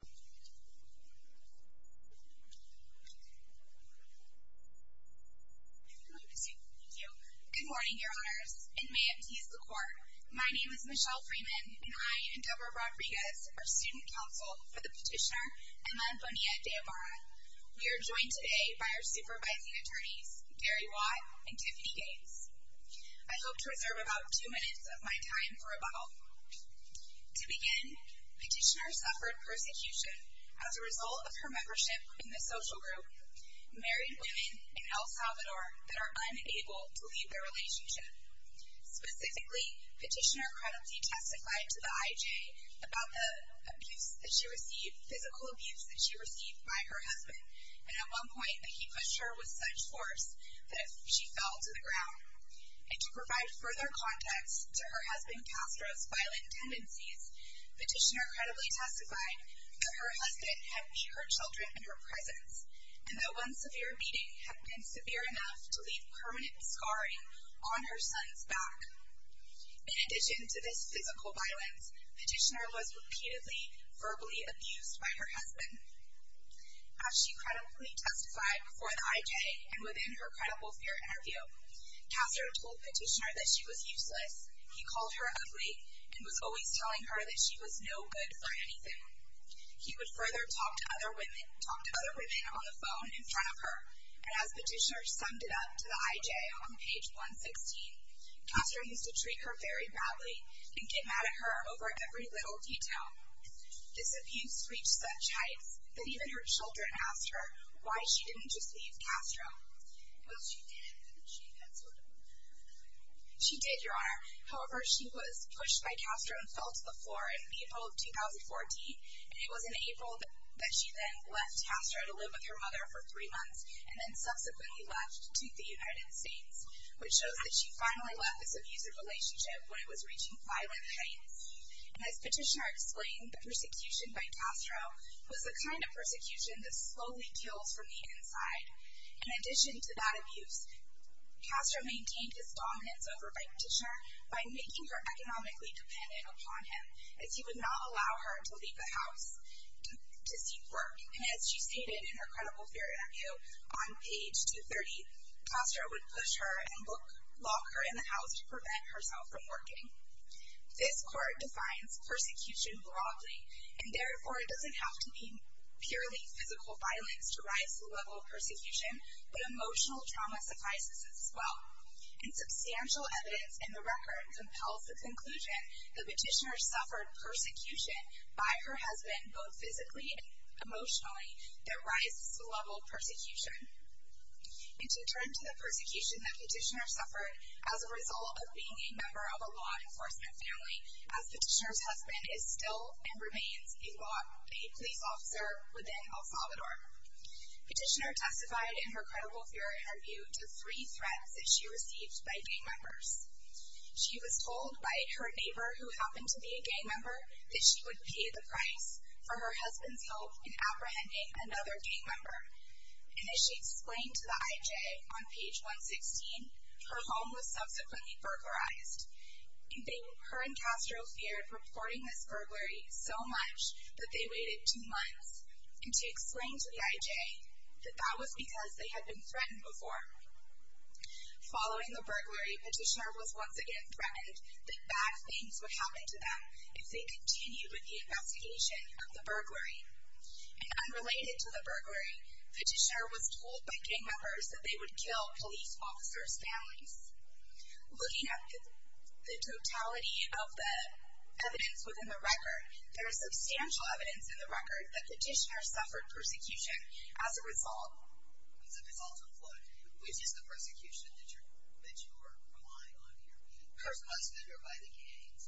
Good morning, Your Honors, and may it please the Court, my name is Michelle Freeman, and I endeavor Rodriguez, our student counsel for the petitioner Emma Bonilla De Ibarra. We are joined today by our supervising attorneys, Gary Watt and Tiffany Gaines. I hope to reserve about two minutes of my time for rebuttal. To begin, petitioner suffered persecution as a result of her membership in the social group, married women in El Salvador that are unable to leave their relationship. Specifically, petitioner credibly testified to the IJ about the physical abuse that she received by her husband, and at one point he pushed her with such force that she fell to the ground. And to provide further context to her husband Castro's violent tendencies, petitioner credibly testified that her husband had beat her children in her presence, and that one severe beating had been severe enough to leave permanent scarring on her son's back. In addition to this physical violence, petitioner was repeatedly verbally abused by her husband. As she credibly testified before the IJ and within her credible fear interview, Castro told petitioner that she was useless. He called her ugly and was always telling her that she was no good for anything. He would further talk to other women on the phone in front of her, and as petitioner summed it up to the IJ on page 116, Castro used to treat her very badly and get mad at her over every little detail. This abuse reached such heights that even her children asked her why she didn't just leave Castro. Well, she did, and she had sort of a... She did, Your Honor. However, she was pushed by Castro and fell to the floor in April of 2014, and it was in April that she then left Castro to live with her mother for three months and then subsequently left to the United States, which shows that she finally left this abusive relationship when it was reaching violent heights. And as petitioner explained, the persecution by Castro was the kind of persecution that slowly kills from the inside, and in addition to that abuse, Castro maintained his dominance over by petitioner by making her economically dependent upon him, as he would not allow her to leave the house to seek work, and as she stated in her credible theory review on page 230, Castro would push her and lock her in the house to prevent herself from working. This court defines persecution broadly, and therefore it doesn't have to be purely physical violence to rise to the level of persecution, but emotional trauma suffices as well. And substantial evidence in the record compels the conclusion that petitioner suffered persecution by her husband, both physically and emotionally, that rises to the level of persecution. And to turn to the persecution that petitioner suffered as a result of being a member of a law enforcement family, as petitioner's husband is still and remains a police officer within El Salvador. Petitioner testified in her credible theory review to three threats that she received by gang members. She was told by her neighbor, who happened to be a gang member, that she would pay the price for her husband's help in apprehending another gang member. And as she explained to the IJ on page 116, her home was subsequently burglarized. Her and Castro feared reporting this burglary so much that they waited two months. And she explained to the IJ that that was because they had been threatened before. Following the burglary, petitioner was once again threatened that bad things would happen to them if they continued with the investigation of the burglary. And unrelated to the burglary, petitioner was told by gang members that they would kill police officers' families. Looking at the totality of the evidence within the record, there is substantial evidence in the record that petitioner suffered persecution as a result. As a result of what? Which is the persecution that you're relying on here? Her husband or by the gangs?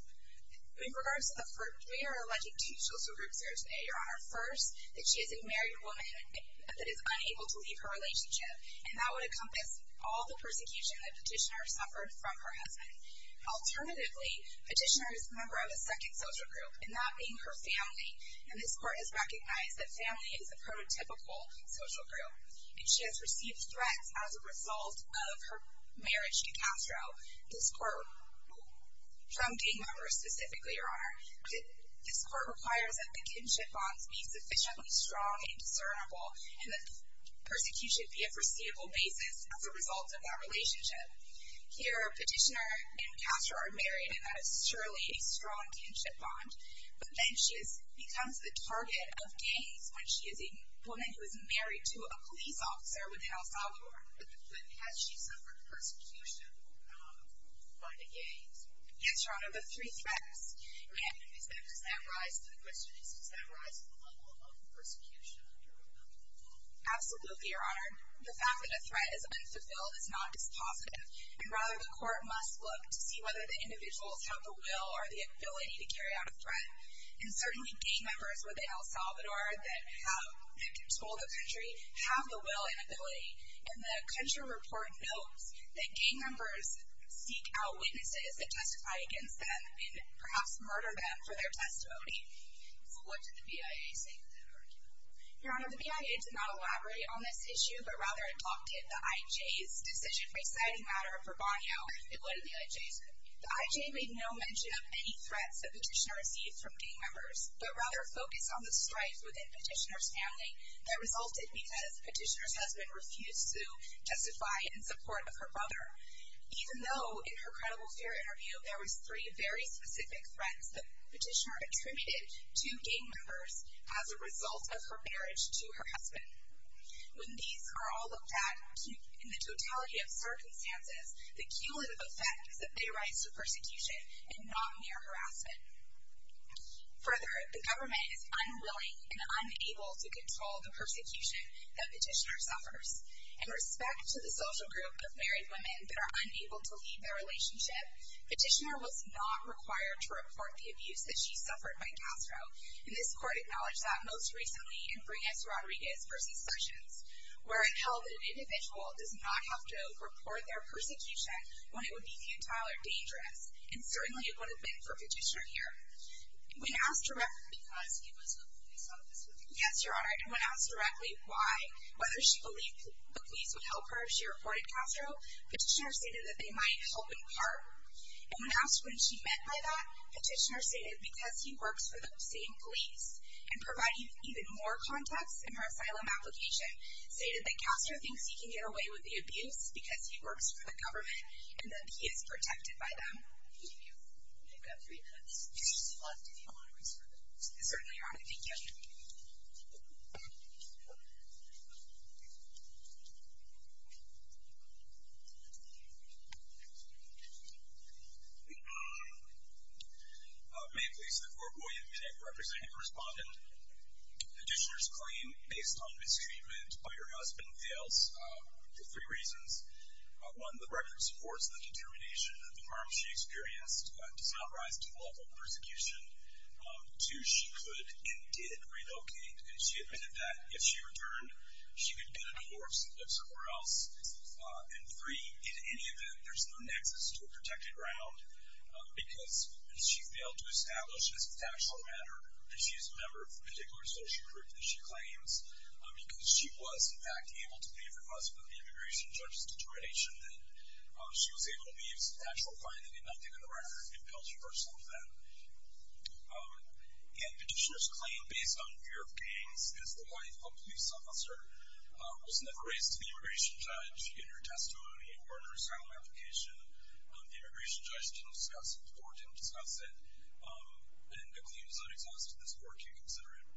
In regards to the first, we are alleged to, Social Groups are today, Your Honor, first, that she is a married woman that is unable to leave her relationship. And that would encompass all the persecution that petitioner suffered from her husband. Alternatively, petitioner is a member of a second social group, and that being her family. And this court has recognized that family is a prototypical social group. And she has received threats as a result of her marriage to Castro. This court, from gang members specifically, Your Honor, this court requires that the kinship bonds be sufficiently strong and discernible and that persecution be a foreseeable basis as a result of that relationship. Here, petitioner and Castro are married, and that is surely a strong kinship bond. But then she becomes the target of gangs when she is a woman who is married to a police officer within El Salvador. But has she suffered persecution by the gangs? Yes, Your Honor, but three threats. And does that rise to the question, does that rise to the level of persecution? Absolutely, Your Honor. The fact that a threat is unfulfilled is not dispositive. And rather, the court must look to see whether the individuals have the will or the ability to carry out a threat. And certainly gang members within El Salvador that control the country have the will and ability. And the country report notes that gang members seek out witnesses that testify against them and perhaps murder them for their testimony. What did the BIA say to that argument? Your Honor, the BIA did not elaborate on this issue, but rather adopted the IJ's decision-making matter for Bonilla. And what did the IJ say? The IJ made no mention of any threats that petitioner received from gang members, but rather focused on the strife within petitioner's family that resulted because petitioner's husband refused to justify in support of her brother. Even though in her credible fear interview there was three very specific threats that petitioner attributed to gang members as a result of her marriage to her husband. When these are all looked at in the totality of circumstances, the cumulative effect is that they rise to persecution and not mere harassment. Further, the government is unwilling and unable to control the persecution that petitioner suffers. In respect to the social group of married women that are unable to leave their relationship, petitioner was not required to report the abuse that she suffered by gassed out. And this court acknowledged that most recently in Briones Rodriguez v. Sessions, where it held that an individual does not have to report their persecution when it would be futile or dangerous. And certainly it would have been for petitioner here. Because he was a police officer? Yes, your honor. And when asked directly why, whether she believed the police would help her if she reported Castro, petitioner stated that they might help in part. And when asked when she meant by that, petitioner stated because he works for the same police. And providing even more context in her asylum application, stated that Castro thinks he can get away with the abuse because he works for the government and that he is protected by them. Thank you. We've got three minutes. Petitioner is requested if you want to respond. Certainly, your honor. Thank you. Ma'am, please, before I call you a minute, Representative Respondent, petitioner's claim based on mistreatment by her husband fails for three reasons. One, the record supports the determination that the harm she experienced does not rise to the level of persecution. Two, she could and did relocate, and she admitted that if she returned, she could get a divorce and live somewhere else. And three, in any event, there's no nexus to a protected ground because she failed to establish this as a factual matter and she is a member of the particular social group that she claims because she was, in fact, able to leave her husband, the immigration judge's determination that she was able to leave as an actual client. They did not give her the record. It fails to refer to some of that. And petitioner's claim based on fear of gangs is the wife of a police officer was never raised to the immigration judge in her testimony or in her asylum application. The immigration judge didn't discuss it, the court didn't discuss it, and the claim does not exhaust this court to consider it.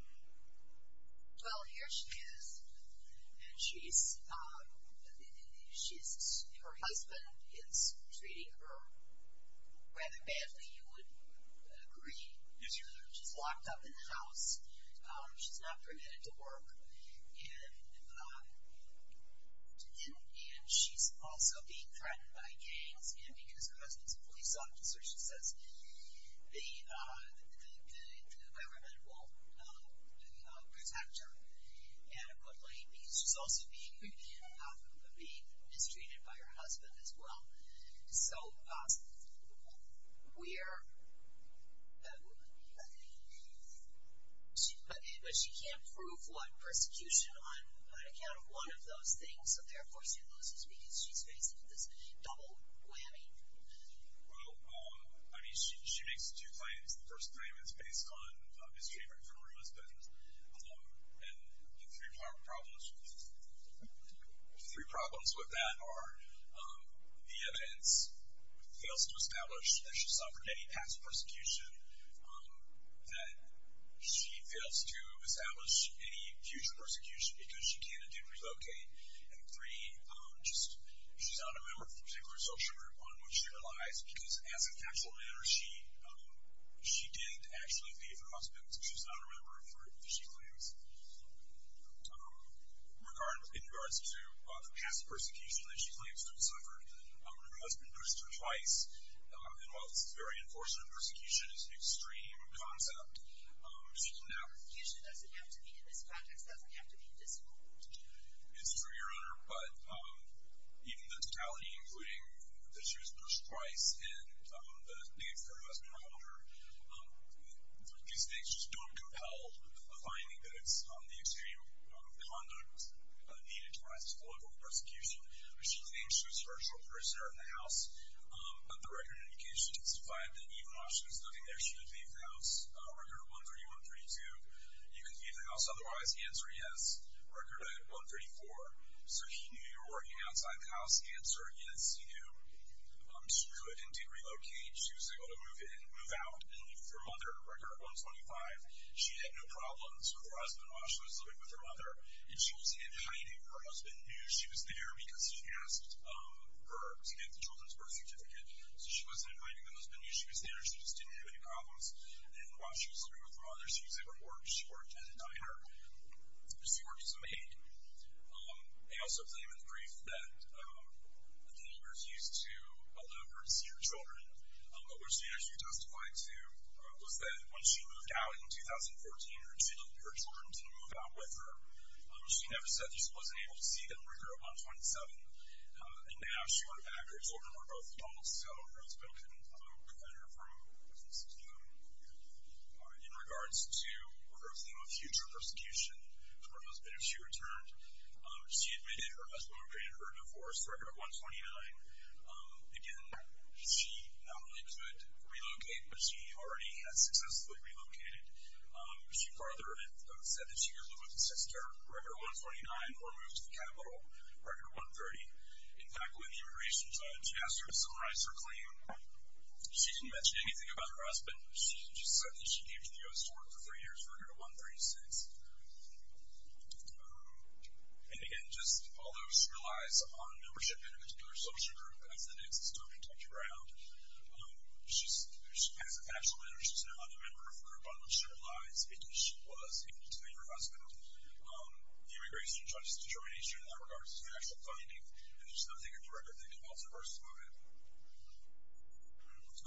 Well, here she is, and she's, her husband is treating her rather badly, you would agree. Yes, ma'am. She's locked up in the house. She's not permitted to work, and she's also being threatened by gangs, and because her husband's a police officer, she says, the government will protect her. And a good lady, because she's also being mistreated by her husband as well. But she can't prove what? Persecution on account of one of those things, so therefore she loses because she's facing this double whammy. Well, I mean, she makes two claims. The first claim is based on mistreatment from her husband, and the three problems with that are the evidence fails to establish that she suffered any past persecution, that she fails to establish any future persecution because she can and did relocate, and three, she's not a member of the particular social group on which she relies because as a factual matter, she did actually leave her husband, so she's not a member of the group that she claims. In regards to the past persecution that she claims to have suffered, her husband persecuted her twice, and while this is very unfortunate, persecution is an extreme concept. Persecution doesn't have to be, in this context, doesn't have to be disciplined. It's true, Your Honor, but even the totality, including that she was pushed twice, and that the external harassment of her, these things just don't compel a finding that it's the extreme conduct needed to rise to the level of persecution. She claims she was a virtual prisoner in the house, but the record of indication testified that even while she was living there, she did leave the house, record 13132. Even leaving the house otherwise, the answer, yes, record 134. So he knew you were working outside the house, answer, yes, he knew. She could and did relocate. She was able to move in, move out, and leave for her mother, record 125. She had no problems with her husband while she was living with her mother, and she wasn't in hiding. Her husband knew she was there because he asked her to get the children's birth certificate, so she wasn't in hiding. The husband knew she was there. She just didn't have any problems, and while she was living with her mother, she was able to work. She worked in a diner. She worked as a maid. They also claim in the brief that the neighbors used to allow her to see her children, but what she actually testified to was that when she moved out in 2014, her children didn't move out with her. She never said that she wasn't able to see them, record 127, and now she learned that her children were both adults, so her husband couldn't look at her from a distance. In regards to her theme of future persecution for her husband, if she returned, she admitted her husband had created her a divorce, record 129. Again, she not only could relocate, but she already had successfully relocated. She further said that she could live with her sister, record 129, or move to the capital, record 130. In fact, when the immigration judge asked her to summarize her claim, she didn't mention anything about her husband. She just said that she came to the U.S. for work for three years, record 136. And, again, just although she relies on a membership in a particular social group, as the nexus to protect her ground, she has a passion and she's now a member of a group on which she relies, because she was able to name her husband. The immigration judge's determination in that regard is a factual finding, and there's nothing in the record that involves a personal event.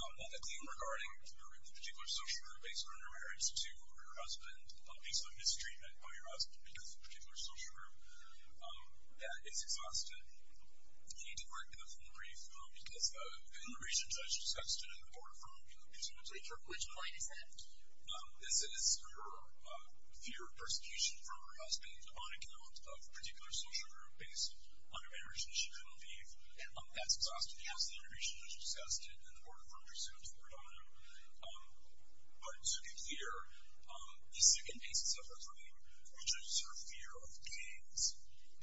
On the theme regarding the particular social group, based on her marriage to her husband, based on mistreatment by her husband because of a particular social group, that is exhausted. You need to work with us on the brief, because the immigration judge just got a student report from the community. Which point is that? This is her fear of persecution from her husband on account of a particular social group based on her marriage and she couldn't leave. That's exhausted. Yes, the immigration judge just got a student report from her student report on him. But to be clear, the second basis of her claim, which is her fear of gangs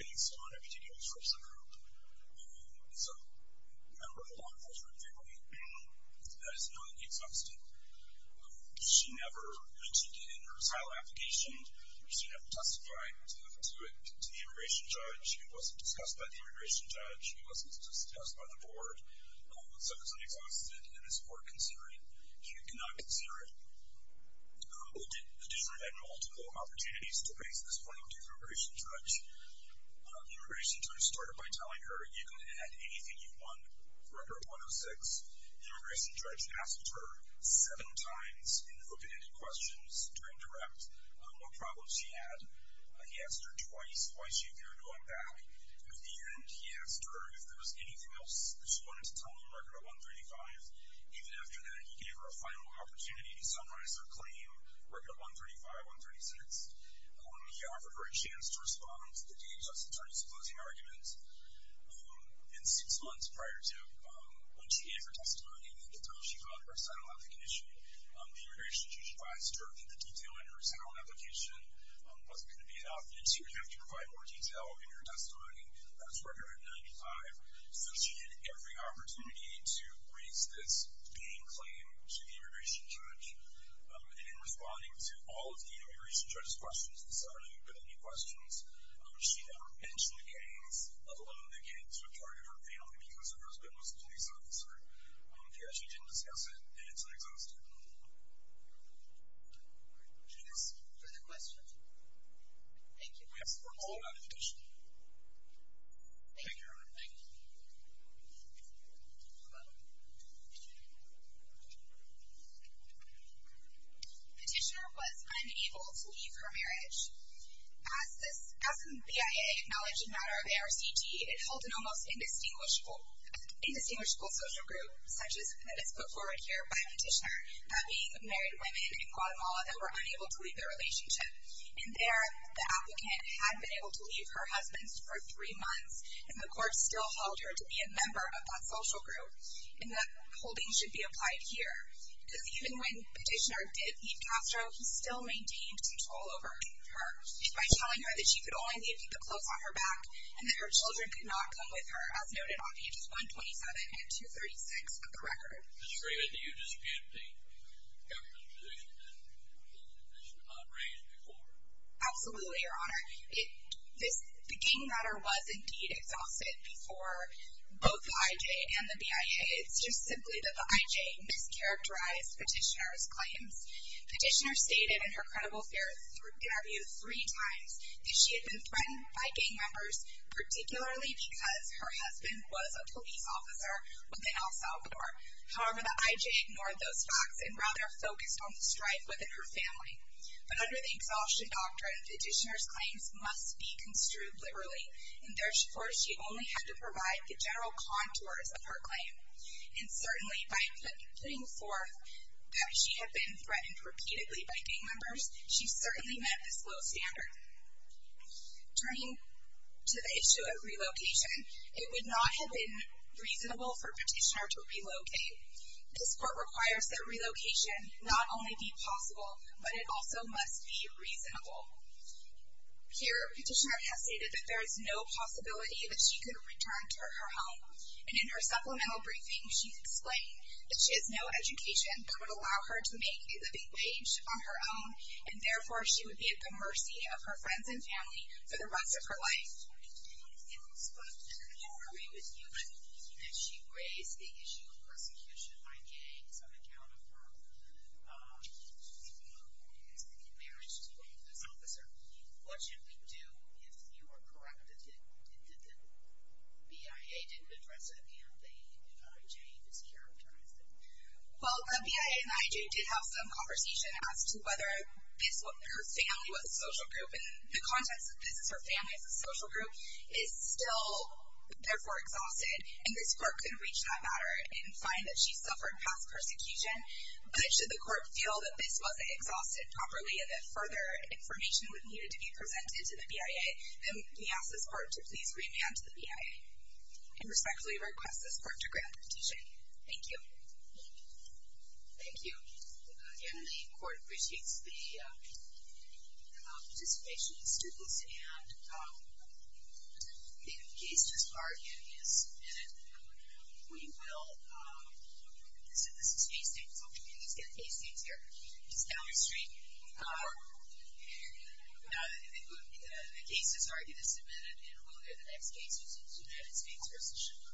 based on a particular social group, is a member of a law enforcement family. That is not exhausted. She never mentioned it in her trial application. She never testified to it to the immigration judge. It wasn't discussed by the immigration judge. It wasn't discussed by the board. So it's not exhausted, and it's worth considering. You cannot consider it. The district had multiple opportunities to raise this point with the immigration judge. The immigration judge started by telling her, you can add anything you want to Record 106. The immigration judge asked her seven times in open-ended questions during direct what problems she had. He asked her twice why she feared going back. In the end, he asked her if there was anything else that she wanted to tell him, Record 135. Even after that, he gave her a final opportunity to summarize her claim, Record 135, 136. He offered her a chance to respond to the DHS attorney's closing argument. And six months prior to when she gave her testimony, at the time she filed her settlement application, the immigration judge advised her that the detail in her settlement application wasn't going to be enough, and she would have to provide more detail in her testimony. That was Record 195. So she had every opportunity to raise this main claim to the immigration judge. And in responding to all of the immigration judge's questions, she never mentioned the case of one of the kids who was part of her family because her husband was a police officer. She actually didn't discuss it, and it's not exhausted. Further questions? Thank you. We have some questions about the petition. Thank you, everyone. Thank you. Hello. Petitioner was unable to leave her marriage. As the BIA acknowledged the matter of ARCG, it held an almost indistinguishable social group, such as that is put forward here by Petitioner, that being married women in Guatemala that were unable to leave their relationship. In there, the applicant had been able to leave her husband for three months, and the court still held her to be a member of that social group, and that holding should be applied here. Because even when Petitioner did leave Castro, he still maintained control over her by telling her that she could only leave the clothes on her back and that her children could not come with her, as noted on pages 127 and 236 of the record. Mr. Freeman, do you dispute the government's position that she was not raised before? Absolutely, Your Honor. The gang matter was indeed exhausted before both the IJ and the BIA. It's just simply that the IJ mischaracterized Petitioner's claims. Petitioner stated in her credible fair interview three times that she had been threatened by gang members, particularly because her husband was a police officer within El Salvador. However, the IJ ignored those facts and rather focused on the strife within her family. But under the Exhaustion Doctrine, Petitioner's claims must be construed liberally, and therefore she only had to provide the general contours of her claim. And certainly by putting forth that she had been threatened repeatedly by gang members, she certainly met this low standard. Turning to the issue of relocation, it would not have been reasonable for Petitioner to relocate. This court requires that relocation not only be possible, but it also must be reasonable. Here, Petitioner has stated that there is no possibility that she could return to her home. And in her supplemental briefing, she explained that she has no education that would allow her to make a living wage on her own, and therefore she would be at the mercy of her friends and family for the rest of her life. But I agree with you that she raised the issue of persecution by gangs on account of her marriage to this officer. What should we do if you are correct that the BIA didn't address it and the IJ mischaracterized it? Well, the BIA and the IJ did have some conversation as to whether her family was a social group. And the context of this is her family is a social group, is still therefore exhausted, and this court couldn't reach that matter and find that she suffered past persecution. But should the court feel that this wasn't exhausted properly and that further information would need to be presented to the BIA, then we ask this court to please remand the BIA and respectfully request this court to grant the petition. Thank you. Thank you. Again, I think the court appreciates the participation of the students. And the case just argued is submitted. We will, this is a case statement, so we can at least get a case statement here. It's down the street. The case is argued and submitted, and we'll get the next case, which is United States v. Sugar.